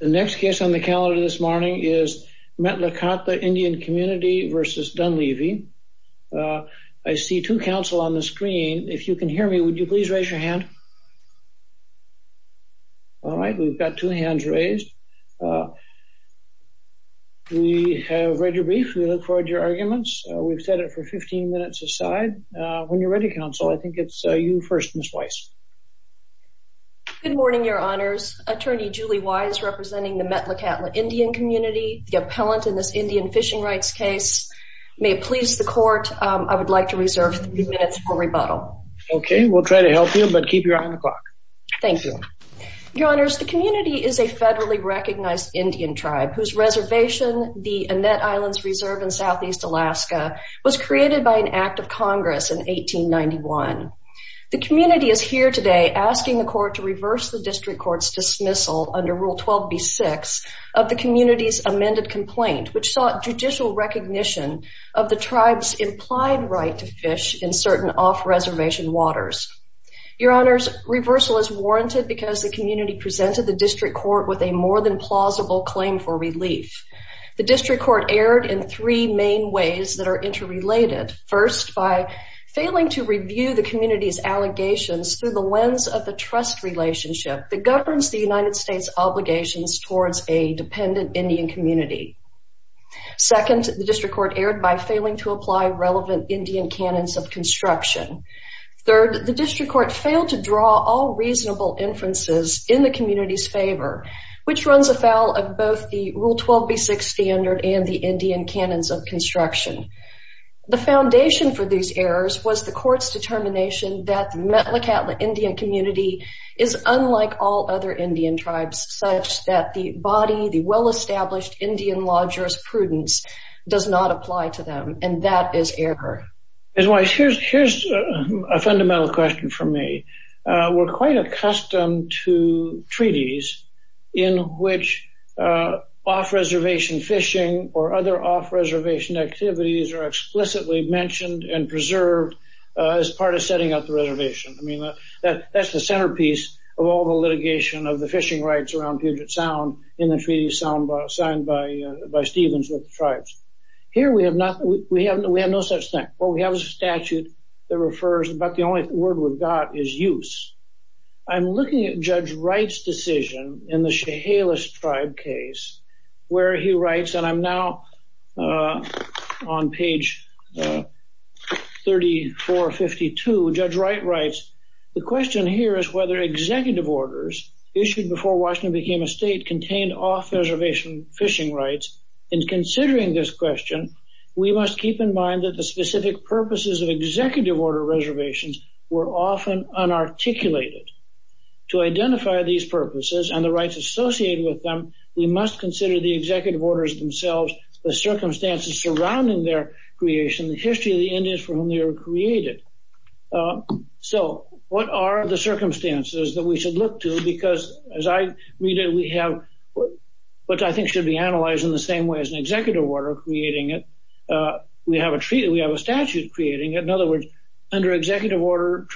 The next case on the calendar this morning is METLAKATLA INDIAN COMMUNITY v. Dunleavy. I see two counsel on the screen. If you can hear me, would you please raise your hand? All right, we've got two hands raised. We have read your brief. We look forward to your arguments. We've set it for 15 minutes aside. When you're ready, counsel, I think it's you first, Ms. Weiss. Good morning, Your Honors. Attorney Julie Weiss representing the METLAKATLA INDIAN COMMUNITY, the appellant in this Indian fishing rights case. May it please the Court, I would like to reserve three minutes for rebuttal. Okay, we'll try to help you, but keep your eye on the clock. Thank you. Your Honors, the community is a federally recognized Indian tribe whose reservation, the Annette Islands Reserve in Southeast Alaska, was created by an act of Congress in 1891. The community is here today asking the Court to reverse the district court's dismissal under Rule 12b-6 of the community's amended complaint, which sought judicial recognition of the tribe's implied right to fish in certain off-reservation waters. Your Honors, reversal is warranted because the community presented the district court with a more than plausible claim for relief. The district court erred in three main ways that are interrelated. First, by failing to review the community's allegations through the lens of the trust relationship that governs the United States' obligations towards a dependent Indian community. Second, the district court erred by failing to apply relevant Indian canons of construction. Third, the district court failed to draw all reasonable inferences in the community's favor, which runs afoul of both the Rule 12b-6 standard and the Indian canons of construction. The foundation for these errors was the court's determination that the Metlakatla Indian community is unlike all other Indian tribes, such that the body, the well-established Indian law jurisprudence does not apply to them, and that is error. Ms. Weiss, here's a fundamental question for me. We're quite accustomed to treaties in which off-reservation fishing or other off-reservation activities are explicitly mentioned and preserved as part of setting up the reservation. I mean, that's the centerpiece of all the litigation of the fishing rights around Puget Sound in the treaty signed by Stevens with the tribes. Here, we have no such thing. What we have is a statute that refers, but the only word we've got is use. I'm looking at Judge Wright's decision in the Chehalis tribe case where he writes, and I'm now on page 3452. Judge Wright writes, the question here is whether executive orders issued before Washington became a state contained off-reservation fishing rights. In considering this question, we must keep in mind that the specific purposes of executive order reservations were often unarticulated. To identify these purposes and the rights associated with them, we must consider the executive orders themselves, the circumstances surrounding their creation, the history of the Indians for whom they were created. So, what are the circumstances that we should look to because, as I read it, we have what I think should be analyzed in the same way as an executive order creating it. We have a treaty. We have a statute creating it. In other words, under executive order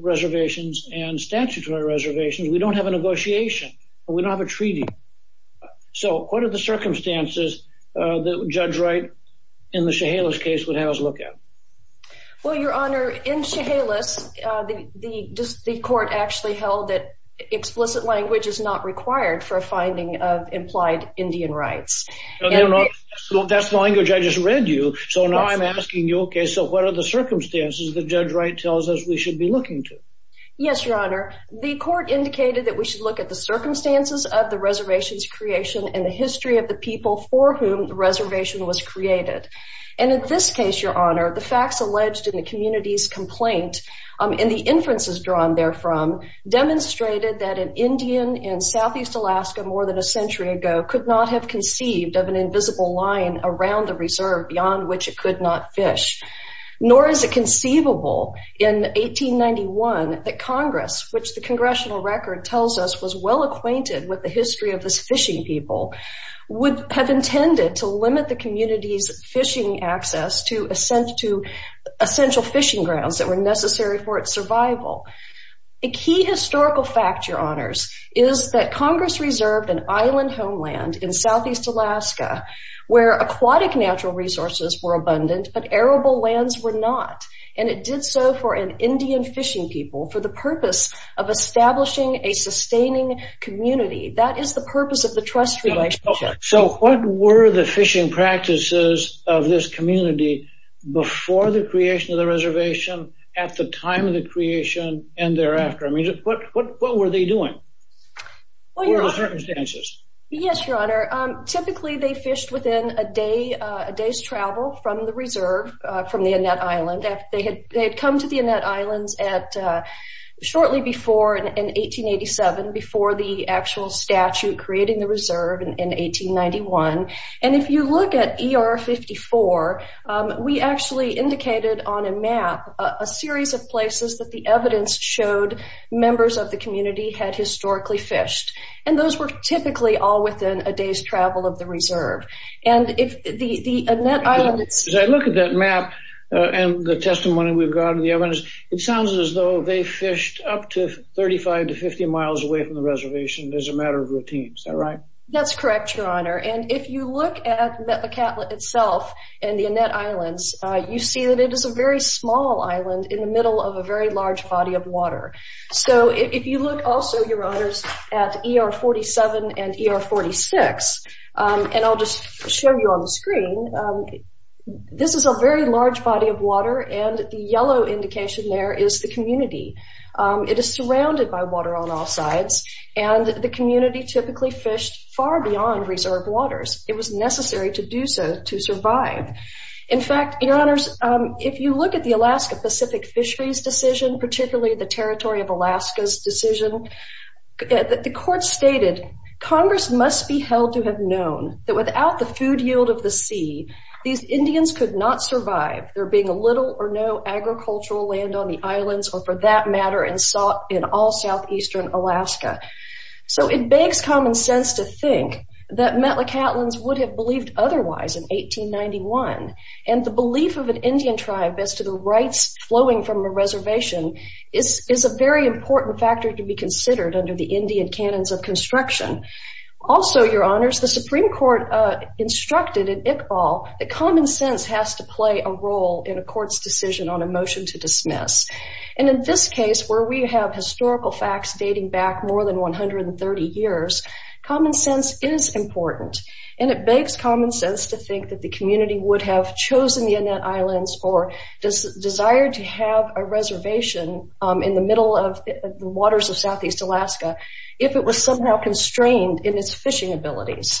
reservations and statutory reservations, we don't have a negotiation. We don't have a treaty. So, what are the circumstances that Judge Wright in the Chehalis case would have us look at? Well, Your Honor, in Chehalis, the court actually held that explicit language is not required for a finding of implied Indian rights. That's the language I just read you. So, now I'm asking you, okay, so what are the circumstances that Judge Wright tells us we should be looking to? Yes, Your Honor. The court indicated that we should look at the circumstances of the reservation's creation and the history of the people for whom the reservation was created. And in this case, Your Honor, the facts alleged in the community's complaint and the inferences drawn therefrom demonstrated that an Indian in southeast Alaska more than a century ago could not have conceived of an invisible line around the reserve beyond which it could not fish. Nor is it conceivable in 1891 that Congress, which the congressional record tells us was well acquainted with the history of its fishing people, would have intended to limit the community's fishing access to essential fishing grounds that were necessary for its survival. The key historical fact, Your Honors, is that Congress reserved an island homeland in southeast Alaska where aquatic natural resources were abundant but arable lands were not. And it did so for an Indian fishing people for the purpose of establishing a sustaining community. That is the purpose of the trust relationship. So what were the fishing practices of this community before the creation of the reservation, at the time of the creation, and thereafter? What were they doing? What were the circumstances? Yes, Your Honor. Typically, they fished within a day's travel from the reserve, from the Annette Island. They had come to the Annette Islands shortly before in 1887, before the actual statute creating the reserve in 1891. And if you look at ER 54, we actually indicated on a map a series of places that the evidence showed members of the community had historically fished. And those were typically all within a day's travel of the reserve. As I look at that map and the testimony we've gotten, the evidence, it sounds as though they fished up to 35 to 50 miles away from the reservation as a matter of routine. Is that right? That's correct, Your Honor. And if you look at Metlakatla itself and the Annette Islands, you see that it is a very small island in the middle of a very large body of water. So if you look also, Your Honors, at ER 47 and ER 46, and I'll just show you on the screen, this is a very large body of water, and the yellow indication there is the community. It is surrounded by water on all sides, and the community typically fished far beyond reserve waters. It was necessary to do so to survive. In fact, Your Honors, if you look at the Alaska Pacific Fisheries decision, particularly the Territory of Alaska's decision, the court stated, Congress must be held to have known that without the food yield of the sea, these Indians could not survive there being little or no agricultural land on the islands, or for that matter, in all southeastern Alaska. So it begs common sense to think that Metlakatlans would have believed otherwise in 1891. And the belief of an Indian tribe as to the rights flowing from a reservation is a very important factor to be considered under the Indian canons of construction. Also, Your Honors, the Supreme Court instructed in Iqbal that common sense has to play a role in a court's decision on a motion to dismiss. And in this case, where we have historical facts dating back more than 130 years, common sense is important. And it begs common sense to think that the community would have chosen the Annette Islands or desired to have a reservation in the middle of the waters of southeast Alaska if it was somehow constrained in its fishing abilities.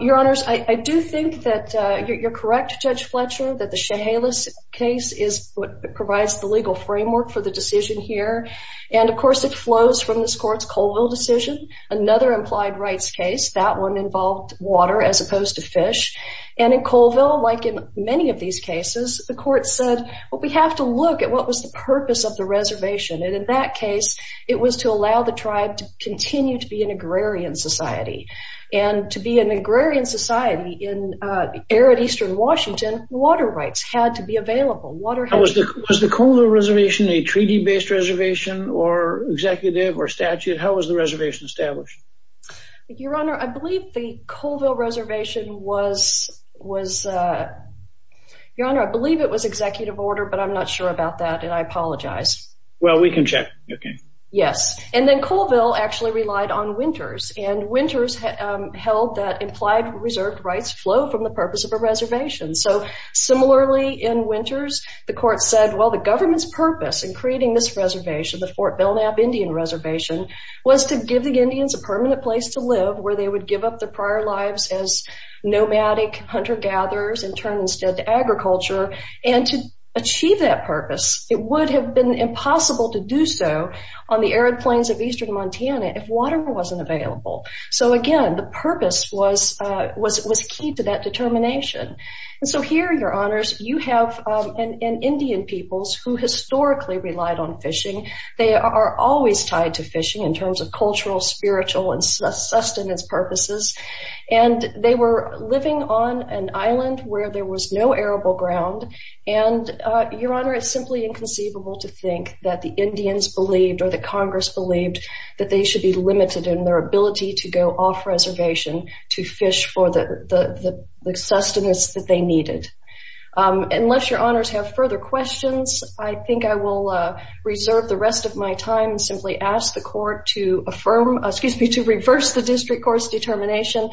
Your Honors, I do think that you're correct, Judge Fletcher, that the Chehalis case is what provides the legal framework for the decision here. And of course, it flows from this court's Colville decision, another implied rights case. That one involved water as opposed to fish. And in Colville, like in many of these cases, the court said, well, we have to look at what was the purpose of the reservation. And in that case, it was to allow the tribe to continue to be an agrarian society. And to be an agrarian society in arid eastern Washington, water rights had to be available. Was the Colville Reservation a treaty-based reservation or executive or statute? How was the reservation established? Your Honor, I believe the Colville Reservation was, Your Honor, I believe it was executive order, but I'm not sure about that. And I apologize. Well, we can check. Okay. Yes. And then Colville actually relied on winters. And winters held that implied reserved rights flow from the purpose of a reservation. So similarly, in winters, the court said, well, the government's purpose in creating this reservation, the Fort Belknap Indian Reservation, was to give the Indians a permanent place to live where they would give up their prior lives as nomadic hunter-gatherers and turn instead to agriculture. And to achieve that purpose, it would have been impossible to do so on the arid plains of eastern Montana if water wasn't available. So again, the purpose was key to that determination. And so here, Your Honors, you have Indian peoples who historically relied on fishing. They are always tied to fishing in terms of cultural, spiritual, and sustenance purposes. And they were living on an island where there was no arable ground. And, Your Honor, it's simply inconceivable to think that the Indians believed, or the Congress believed, that they should be limited in their ability to go off-reservation to fish for the sustenance that they needed. Unless Your Honors have further questions, I think I will reserve the rest of my time and simply ask the Court to affirm, excuse me, to reverse the District Court's determination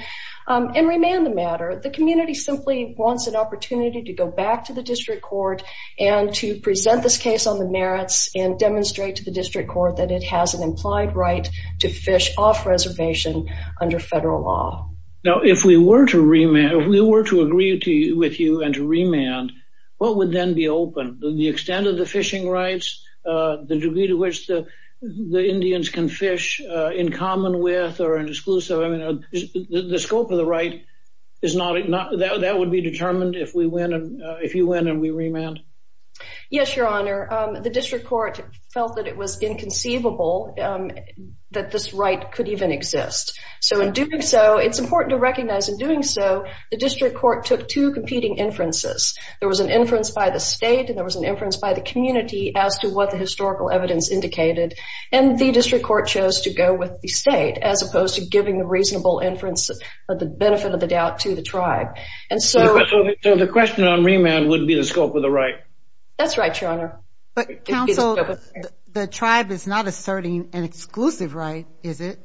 and remand the matter. The community simply wants an opportunity to go back to the District Court and to present this case on the merits and demonstrate to the District Court that it has an implied right to fish off-reservation under federal law. Now, if we were to remand, if we were to agree with you and to remand, what would then be open? The extent of the fishing rights, the degree to which the Indians can fish in common with or in exclusive, I mean, the scope of the right is not, that would be determined if we win, if you win and we remand? Yes, Your Honor, the District Court felt that it was inconceivable that this right could even exist. So, in doing so, it's important to recognize, in doing so, the District Court took two competing inferences. There was an inference by the state and there was an inference by the community as to what the historical evidence indicated, and the District Court chose to go with the state as opposed to giving the reasonable inference of the benefit of the doubt to the tribe. So, the question on remand would be the scope of the right? That's right, Your Honor. But, counsel, the tribe is not asserting an exclusive right, is it?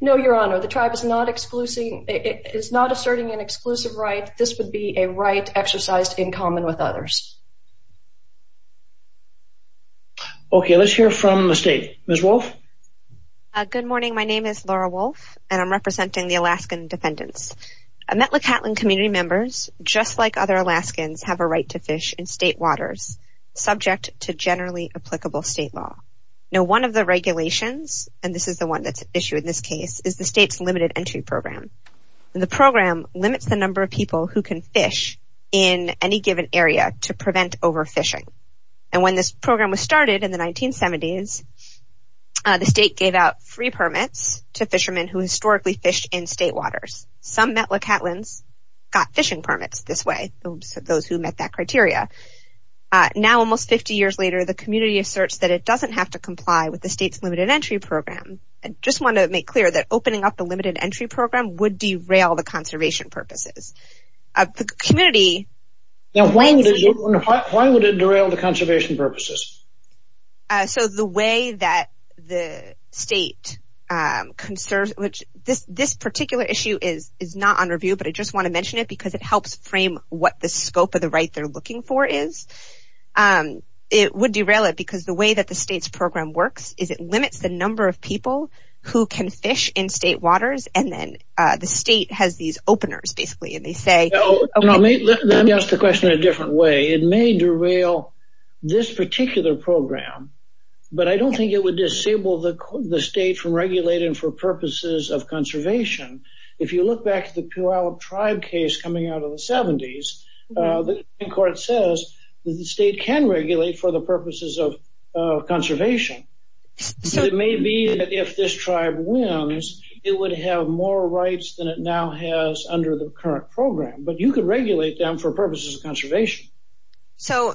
No, Your Honor, the tribe is not asserting an exclusive right. This would be a right exercised in common with others. Okay, let's hear from the state. Ms. Wolfe? Good morning, my name is Laura Wolfe, and I'm representing the Alaskan defendants. Metlakatlin community members, just like other Alaskans, have a right to fish in state waters, subject to generally applicable state law. Now, one of the regulations, and this is the one that's issued in this case, is the state's limited entry program. The program limits the number of people who can fish in any given area to prevent overfishing. And when this program was started in the 1970s, the state gave out free permits to fishermen who historically fished in state waters. Some Metlakatlins got fishing permits this way, those who met that criteria. Now, almost 50 years later, the community asserts that it doesn't have to comply with the state's limited entry program. I just want to make clear that opening up the limited entry program would derail the conservation purposes. The community... Now, why would it derail the conservation purposes? So, the way that the state conserves... This particular issue is not under review, but I just want to mention it because it helps frame what the scope of the right they're looking for is. It would derail it because the way that the state's program works is it limits the number of people who can fish in state waters, and then the state has these openers, basically, and they say... Let me ask the question in a different way. It may derail this particular program, but I don't think it would disable the state from regulating for purposes of conservation. If you look back at the Puyallup tribe case coming out of the 70s, the Supreme Court says that the state can regulate for the purposes of conservation. It may be that if this tribe wins, it would have more rights than it now has under the current program, but you could regulate them for purposes of conservation. So,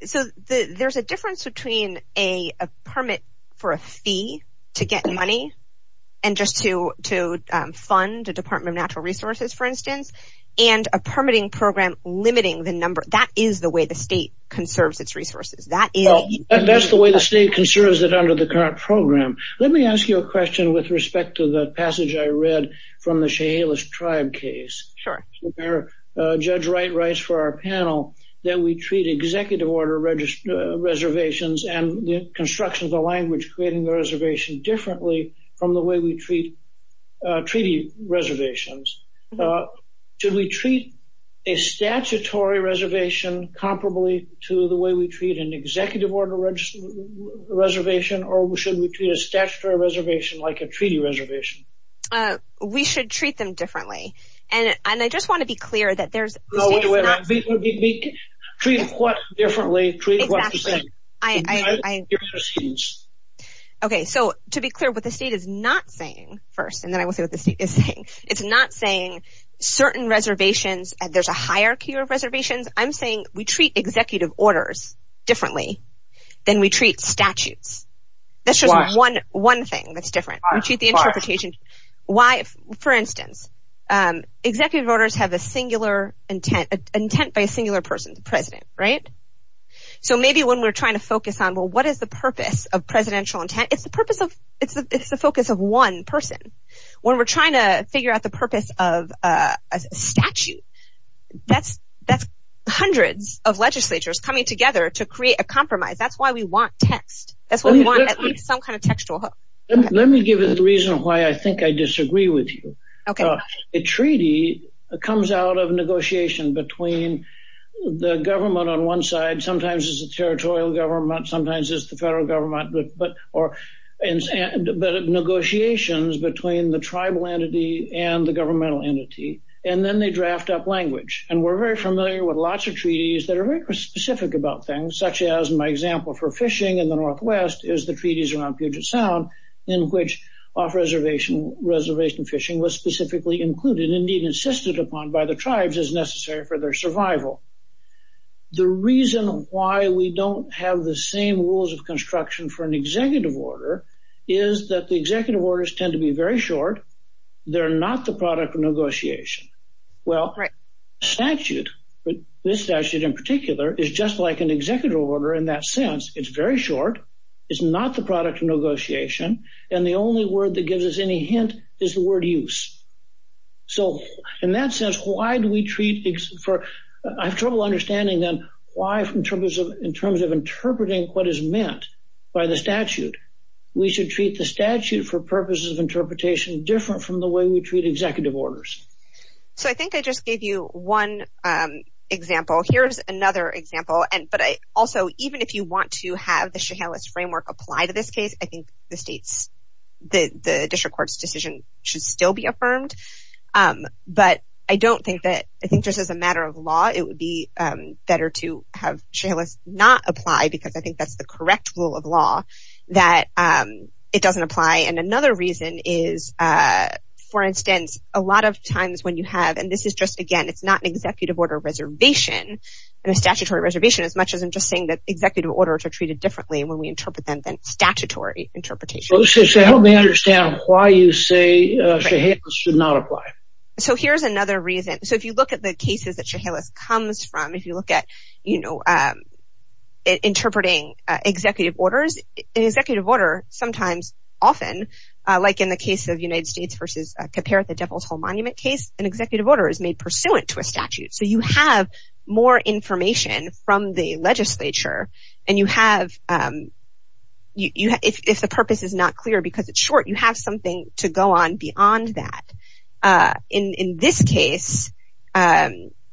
there's a difference between a permit for a fee to get money and just to fund a Department of Natural Resources, for instance, and a permitting program limiting the number. That is the way the state conserves its resources. That's the way the state conserves it under the current program. Let me ask you a question with respect to the passage I read from the Chehalis tribe case. Sure. Judge Wright writes for our panel that we treat executive order reservations and the construction of the language creating the reservation differently from the way we treat treaty reservations. Should we treat a statutory reservation comparably to the way we treat an executive order reservation, or should we treat a statutory reservation like a treaty reservation? We should treat them differently. And I just want to be clear that there's... No, wait, wait, wait. Treat what differently, treat what the same. Exactly. Okay, so to be clear, what the state is not saying first, and then I will say what the state is saying. It's not saying certain reservations and there's a hierarchy of reservations. I'm saying we treat executive orders differently than we treat statutes. That's just one thing that's different. We treat the interpretation... For instance, executive orders have a singular intent by a singular person, the president, right? So maybe when we're trying to focus on, well, what is the purpose of presidential intent? It's the purpose of... It's the focus of one person. When we're trying to figure out the purpose of a statute, that's hundreds of legislatures coming together to create a compromise. That's why we want text. That's why we want at least some kind of textual hook. Let me give you the reason why I think I disagree with you. Okay. A treaty comes out of negotiation between the government on one side, sometimes it's a territorial government, sometimes it's the federal government, but negotiations between the tribal entity and the governmental entity, and then they draft up language. And we're very familiar with lots of treaties that are very specific about things, such as my example for fishing in the Northwest is the treaties around Puget Sound in which off-reservation fishing was specifically included, indeed insisted upon by the tribes as necessary for their survival. The reason why we don't have the same rules of construction for an executive order is that the executive orders tend to be very short. They're not the product of negotiation. Well, a statute, this statute in particular, is just like an executive order in that sense. It's very short. It's not the product of negotiation. And the only word that gives us any hint is the word use. So in that sense, why do we treat – I have trouble understanding then why in terms of interpreting what is meant by the statute, we should treat the statute for purposes of interpretation different from the way we treat executive orders. So I think I just gave you one example. Here's another example. But also, even if you want to have the Chehalis framework apply to this case, I think the district court's decision should still be affirmed. But I don't think that – I think just as a matter of law, it would be better to have Chehalis not apply because I think that's the correct rule of law that it doesn't apply. And another reason is, for instance, a lot of times when you have – and this is just, again, it's not an executive order reservation and a statutory reservation as much as I'm just saying that executive orders are treated differently when we interpret them than statutory interpretation. So help me understand why you say Chehalis should not apply. So here's another reason. So if you look at the cases that Chehalis comes from, if you look at interpreting executive orders, an executive order sometimes, often, like in the case of United States versus Caperta Devil's Hole Monument case, an executive order is made pursuant to a statute. So you have more information from the legislature and you have – if the purpose is not clear because it's short, you have something to go on beyond that. In this case,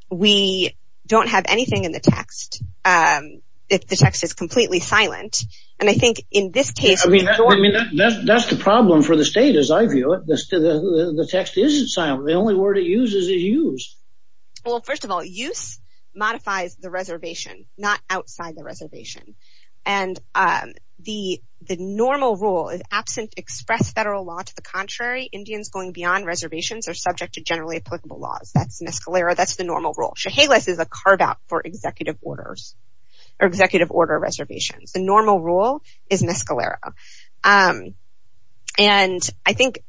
we don't have anything in the text. The text is completely silent. And I think in this case – I mean that's the problem for the state as I view it. The text isn't silent. The only word it uses is use. Well, first of all, use modifies the reservation, not outside the reservation. And the normal rule is absent express federal law to the contrary. Indians going beyond reservations are subject to generally applicable laws. That's miscalero. That's the normal rule. Chehalis is a carve-out for executive orders or executive order reservations. The normal rule is miscalero. And I think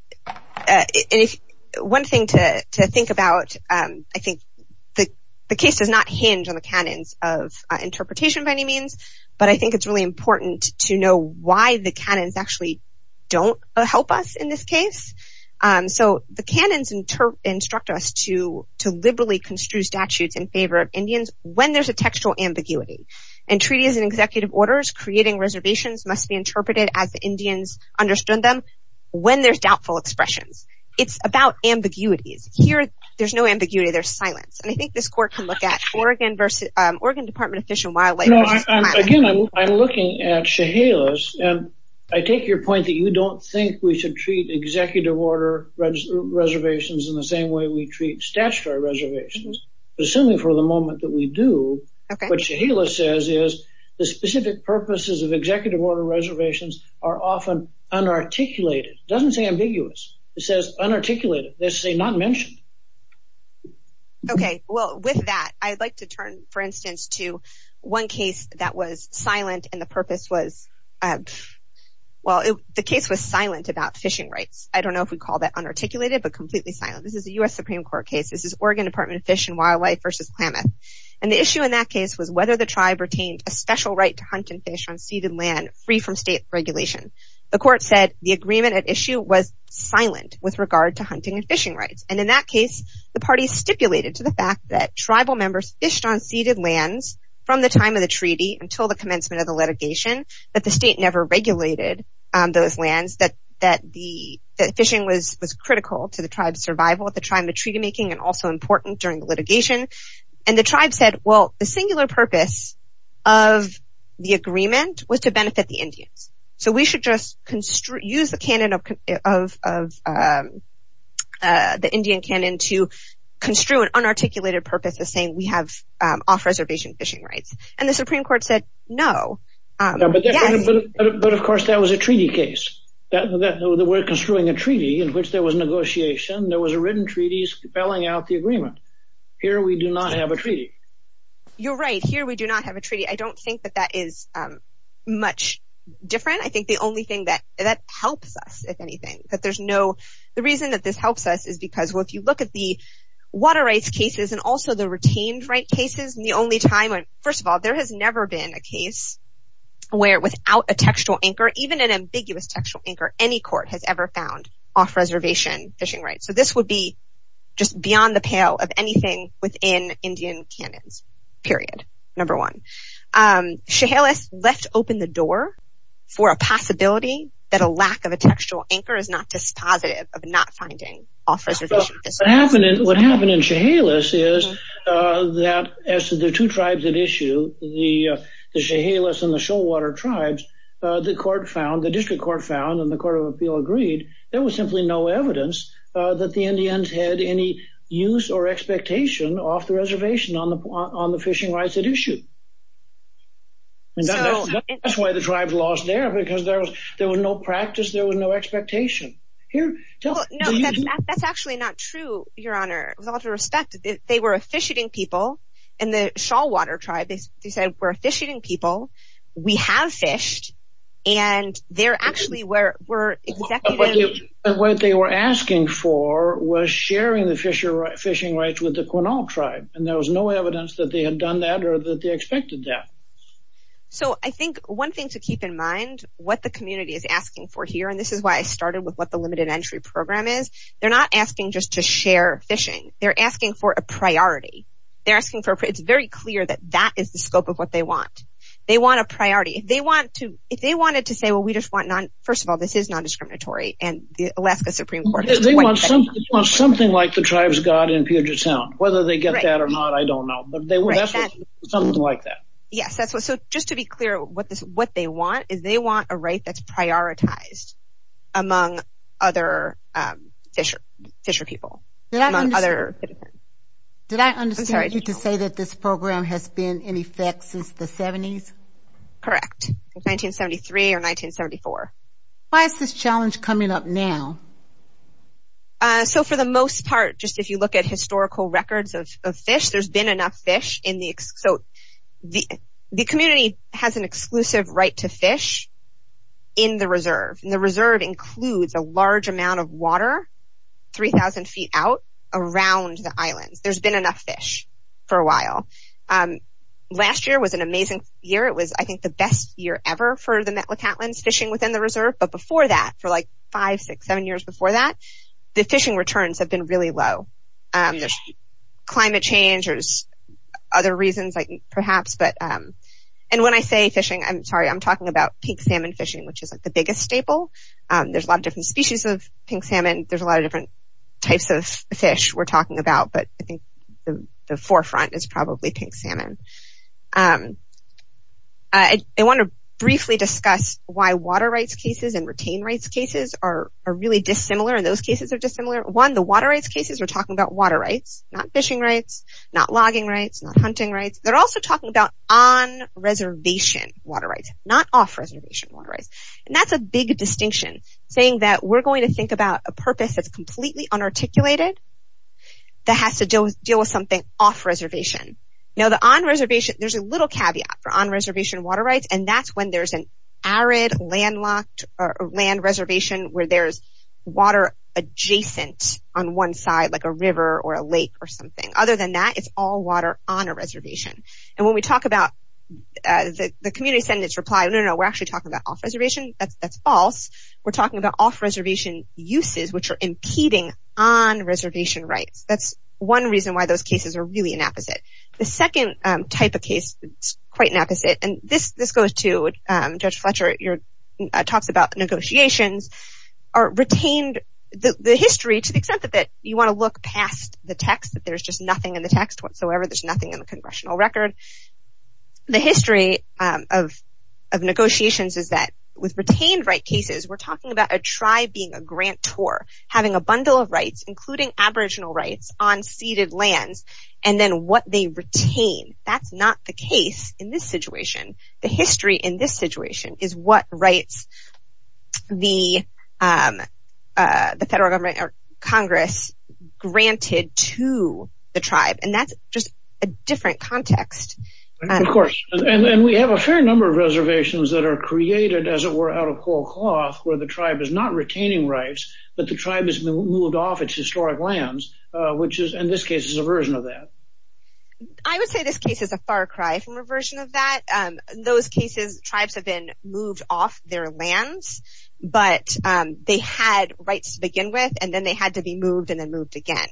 one thing to think about, I think the case does not hinge on the canons of interpretation by any means, but I think it's really important to know why the canons actually don't help us in this case. So the canons instruct us to liberally construe statutes in favor of Indians when there's a textual ambiguity. In treaties and executive orders, creating reservations must be interpreted as the Indians understood them when there's doubtful expressions. It's about ambiguities. Here, there's no ambiguity. There's silence. And I think this court can look at Oregon Department of Fish and Wildlife. Again, I'm looking at Chehalis, and I take your point that you don't think we should treat executive order reservations in the same way we treat statutory reservations. Assuming for the moment that we do, what Chehalis says is the specific purposes of executive order reservations are often unarticulated. It doesn't say ambiguous. It says unarticulated. It doesn't say not mentioned. Okay. Well, with that, I'd like to turn, for instance, to one case that was silent and the purpose was, well, the case was silent about fishing rights. I don't know if we'd call that unarticulated, but completely silent. This is a U.S. Supreme Court case. This is Oregon Department of Fish and Wildlife versus Klamath. And the issue in that case was whether the tribe retained a special right to hunt and fish on ceded land free from state regulation. The court said the agreement at issue was silent with regard to hunting and fishing rights. And in that case, the party stipulated to the fact that tribal members fished on ceded lands from the time of the treaty until the commencement of the litigation, that the state never regulated those lands, that fishing was critical to the tribe's survival at the time of the treaty making and also important during the litigation. And the tribe said, well, the singular purpose of the agreement was to benefit the Indians. So we should just use the Indian canon to construe an unarticulated purpose as saying we have off-reservation fishing rights. And the Supreme Court said no. But of course that was a treaty case. We're construing a treaty in which there was negotiation. There was a written treaty spelling out the agreement. Here we do not have a treaty. You're right. Here we do not have a treaty. I don't think that that is much different. I think the only thing that helps us, if anything, that there's no— the reason that this helps us is because, well, if you look at the water rights cases and also the retained right cases, the only time— first of all, there has never been a case where without a textual anchor, even an ambiguous textual anchor, any court has ever found off-reservation fishing rights. So this would be just beyond the pale of anything within Indian canons, period, number one. Chehalis left open the door for a possibility that a lack of a textual anchor is not dispositive of not finding off-reservation fishing rights. What happened in Chehalis is that as to the two tribes at issue, the Chehalis and the Shoalwater tribes, the court found, the district court found and the court of appeal agreed, there was simply no evidence that the Indians had any use or expectation off the reservation on the fishing rights at issue. That's why the tribes lost there because there was no practice. There was no expectation. Here, tell us. No, that's actually not true, Your Honor. With all due respect, they were a fish-eating people, and the Shoalwater tribe, they said, we're fish-eating people. We have fished, and they're actually were executive. What they were asking for was sharing the fishing rights with the Quinault tribe, and there was no evidence that they had done that or that they expected that. So I think one thing to keep in mind, what the community is asking for here, and this is why I started with what the limited entry program is, they're not asking just to share fishing. They're asking for a priority. It's very clear that that is the scope of what they want. They want a priority. If they wanted to say, well, first of all, this is non-discriminatory, and the Alaska Supreme Court. They want something like the tribe's God in Puget Sound. Whether they get that or not, I don't know. But that's something like that. Yes. So just to be clear, what they want is they want a right that's prioritized among other fisher people. Did I understand you to say that this program has been in effect since the 70s? Correct, since 1973 or 1974. Why is this challenge coming up now? So for the most part, just if you look at historical records of fish, there's been enough fish. So the community has an exclusive right to fish in the reserve, and the reserve includes a large amount of water 3,000 feet out around the islands. There's been enough fish for a while. Last year was an amazing year. It was, I think, the best year ever for the Metlakatlins fishing within the reserve. But before that, for like five, six, seven years before that, the fishing returns have been really low. There's climate change. There's other reasons, perhaps. And when I say fishing, I'm sorry, I'm talking about pink salmon fishing, which is the biggest staple. There's a lot of different species of pink salmon. There's a lot of different types of fish we're talking about, but I think the forefront is probably pink salmon. I want to briefly discuss why water rights cases and retained rights cases are really dissimilar, and those cases are dissimilar. One, the water rights cases are talking about water rights, not fishing rights, not logging rights, not hunting rights. They're also talking about on-reservation water rights, not off-reservation water rights. And that's a big distinction, saying that we're going to think about a purpose that's completely unarticulated that has to deal with something off-reservation. Now, the on-reservation, there's a little caveat for on-reservation water rights, and that's when there's an arid land reservation where there's water adjacent on one side, like a river or a lake or something. Other than that, it's all water on a reservation. And when we talk about the community sentence reply, no, no, no, we're actually talking about off-reservation, that's false. We're talking about off-reservation uses which are impeding on reservation rights. That's one reason why those cases are really inapposite. The second type of case that's quite inapposite, and this goes to Judge Fletcher, your talks about negotiations, are retained, the history, to the extent that you want to look past the text, that there's just nothing in the text whatsoever, there's nothing in the congressional record, and the history of negotiations is that with retained right cases, we're talking about a tribe being a grantor, having a bundle of rights, including aboriginal rights, on ceded lands, and then what they retain. That's not the case in this situation. The history in this situation is what rights the federal government or Congress granted to the tribe, and that's just a different context. Of course, and we have a fair number of reservations that are created, as it were, out of cold cloth where the tribe is not retaining rights, but the tribe has moved off its historic lands, which in this case is a version of that. I would say this case is a far cry from a version of that. In those cases, tribes have been moved off their lands, but they had rights to begin with, and then they had to be moved and then moved again.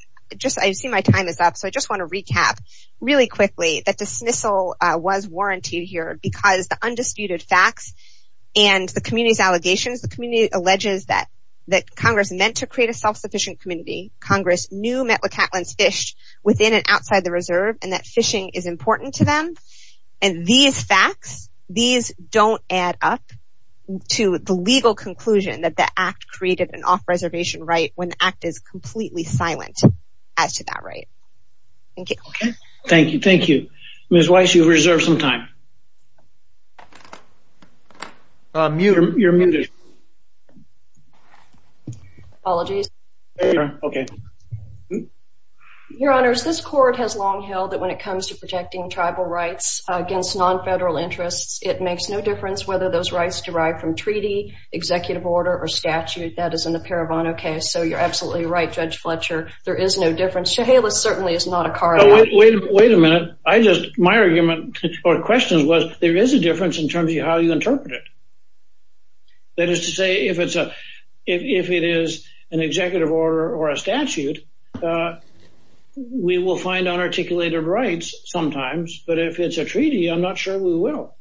I see my time is up, so I just want to recap really quickly that dismissal was warranted here because the undisputed facts and the community's allegations, the community alleges that Congress meant to create a self-sufficient community, Congress knew Metlakatlan's fished within and outside the reserve, and that fishing is important to them, and these facts, these don't add up to the legal conclusion that the Act created an off-reservation right when the Act is completely silent as to that right. Thank you. Thank you. Ms. Weiss, you have reserved some time. You're muted. Apologies. Your Honors, this Court has long held that when it comes to protecting tribal rights against non-federal interests, it makes no difference whether those rights derive from treaty, executive order, or statute that is in the Parabono case. So you're absolutely right, Judge Fletcher. There is no difference. Chehalis certainly is not a car lot. Wait a minute. My argument or question was there is a difference in terms of how you interpret it. That is to say if it is an executive order or a statute, we will find unarticulated rights sometimes, but if it's a treaty, I'm not sure we will.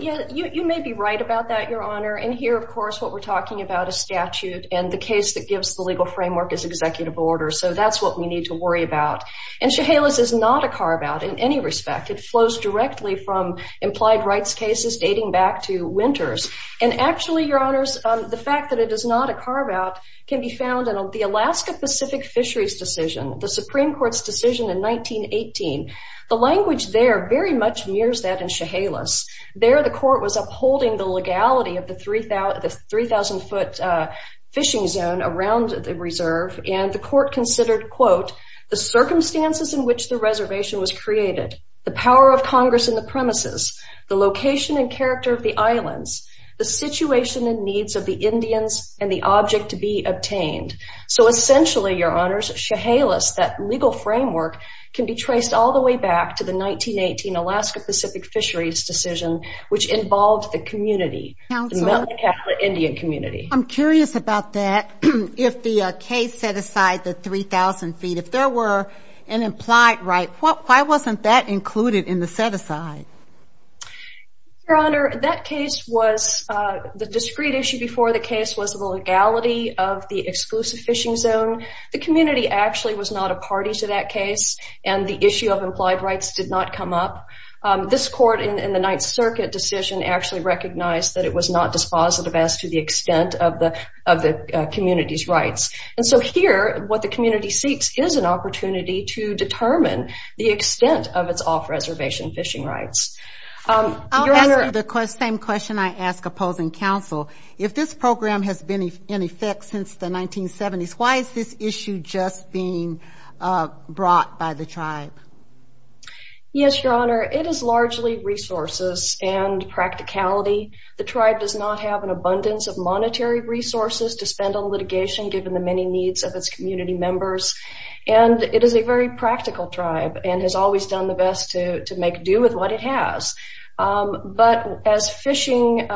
You may be right about that, Your Honor. And here, of course, what we're talking about is statute, and the case that gives the legal framework is executive order. So that's what we need to worry about. And Chehalis is not a carve-out in any respect. It flows directly from implied rights cases dating back to Winters. And actually, Your Honors, the fact that it is not a carve-out can be found in the Alaska Pacific Fisheries decision, the Supreme Court's decision in 1918. The language there very much mirrors that in Chehalis. There, the court was upholding the legality of the 3,000-foot fishing zone around the reserve, and the court considered, quote, the circumstances in which the reservation was created, the power of Congress in the premises, the location and character of the islands, the situation and needs of the Indians, and the object to be obtained. So essentially, Your Honors, Chehalis, that legal framework, can be traced all the way back to the 1918 Alaska Pacific Fisheries decision, which involved the community, the Mountain Catholic Indian community. I'm curious about that, if the case set aside the 3,000 feet. If there were an implied right, why wasn't that included in the set-aside? Your Honor, the discrete issue before the case was the legality of the exclusive fishing zone. The community actually was not a party to that case, and the issue of implied rights did not come up. This court in the Ninth Circuit decision actually recognized that it was not dispositive as to the extent of the community's rights. And so here, what the community seeks is an opportunity to determine the extent of its off-reservation fishing rights. I'll ask you the same question I ask opposing counsel. If this program has been in effect since the 1970s, why is this issue just being brought by the tribe? Yes, Your Honor, it is largely resources and practicality. The tribe does not have an abundance of monetary resources to spend on litigation given the many needs of its community members. And it is a very practical tribe and has always done the best to make do with what it has. But as fishing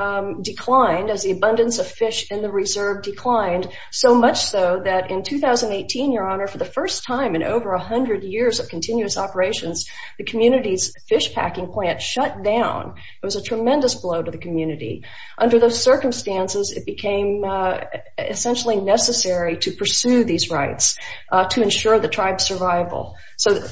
declined, as the abundance of fish in the reserve declined, so much so that in 2018, Your Honor, for the first time in over 100 years of continuous operations, the community's fish packing plant shut down. It was a tremendous blow to the community. Under those circumstances, it became essentially necessary to pursue these rights to ensure the tribe's survival. So,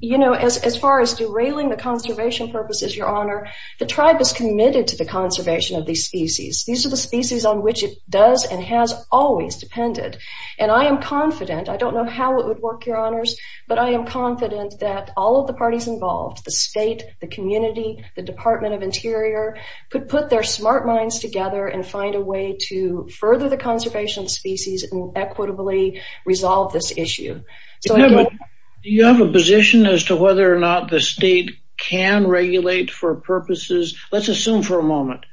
you know, as far as derailing the conservation purposes, Your Honor, the tribe is committed to the conservation of these species. These are the species on which it does and has always depended. And I am confident, I don't know how it would work, Your Honors, but I am confident that all of the parties involved, the state, the community, the Department of Interior, could put their smart minds together and find a way to further the conservation of species and equitably resolve this issue. Do you have a position as to whether or not the state can regulate for purposes, let's assume for a moment,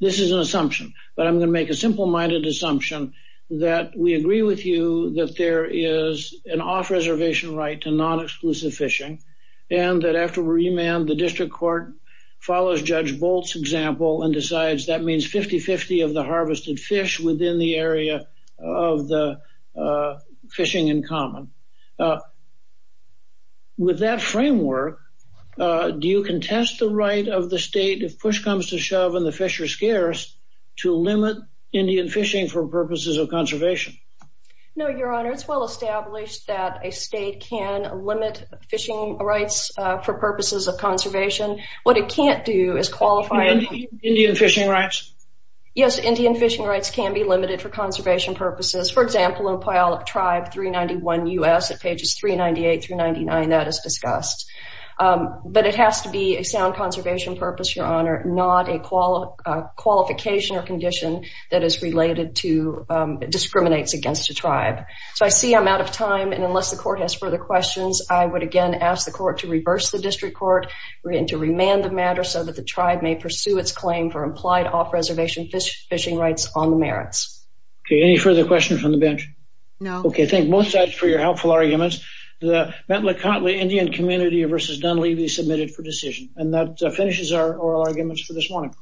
this is an assumption, but I'm going to make a simple-minded assumption that we agree with you that there is an off-reservation right to non-exclusive fishing and that after remand, the district court follows Judge Bolt's example and decides that means 50-50 of the harvested fish within the area of the fishing in common. With that framework, do you contest the right of the state, if push comes to shove and the fish are scarce, to limit Indian fishing for purposes of conservation? No, Your Honor, it's well established that a state can limit fishing rights for purposes of conservation. What it can't do is qualify... Indian fishing rights? Yes, Indian fishing rights can be limited for conservation purposes. For example, in Puyallup Tribe 391 U.S., at pages 398-399, that is discussed. But it has to be a sound conservation purpose, Your Honor, not a qualification or condition that is related to... discriminates against a tribe. So I see I'm out of time, and unless the court has further questions, I would again ask the court to reverse the district court and to remand the matter so that the tribe may pursue its claim for implied off-reservation fishing rights on the merits. Okay, any further questions from the bench? No. Okay, thank both sides for your helpful arguments. The Bentley-Contley Indian community versus Dunleavy submitted for decision. And that finishes our oral arguments for this morning.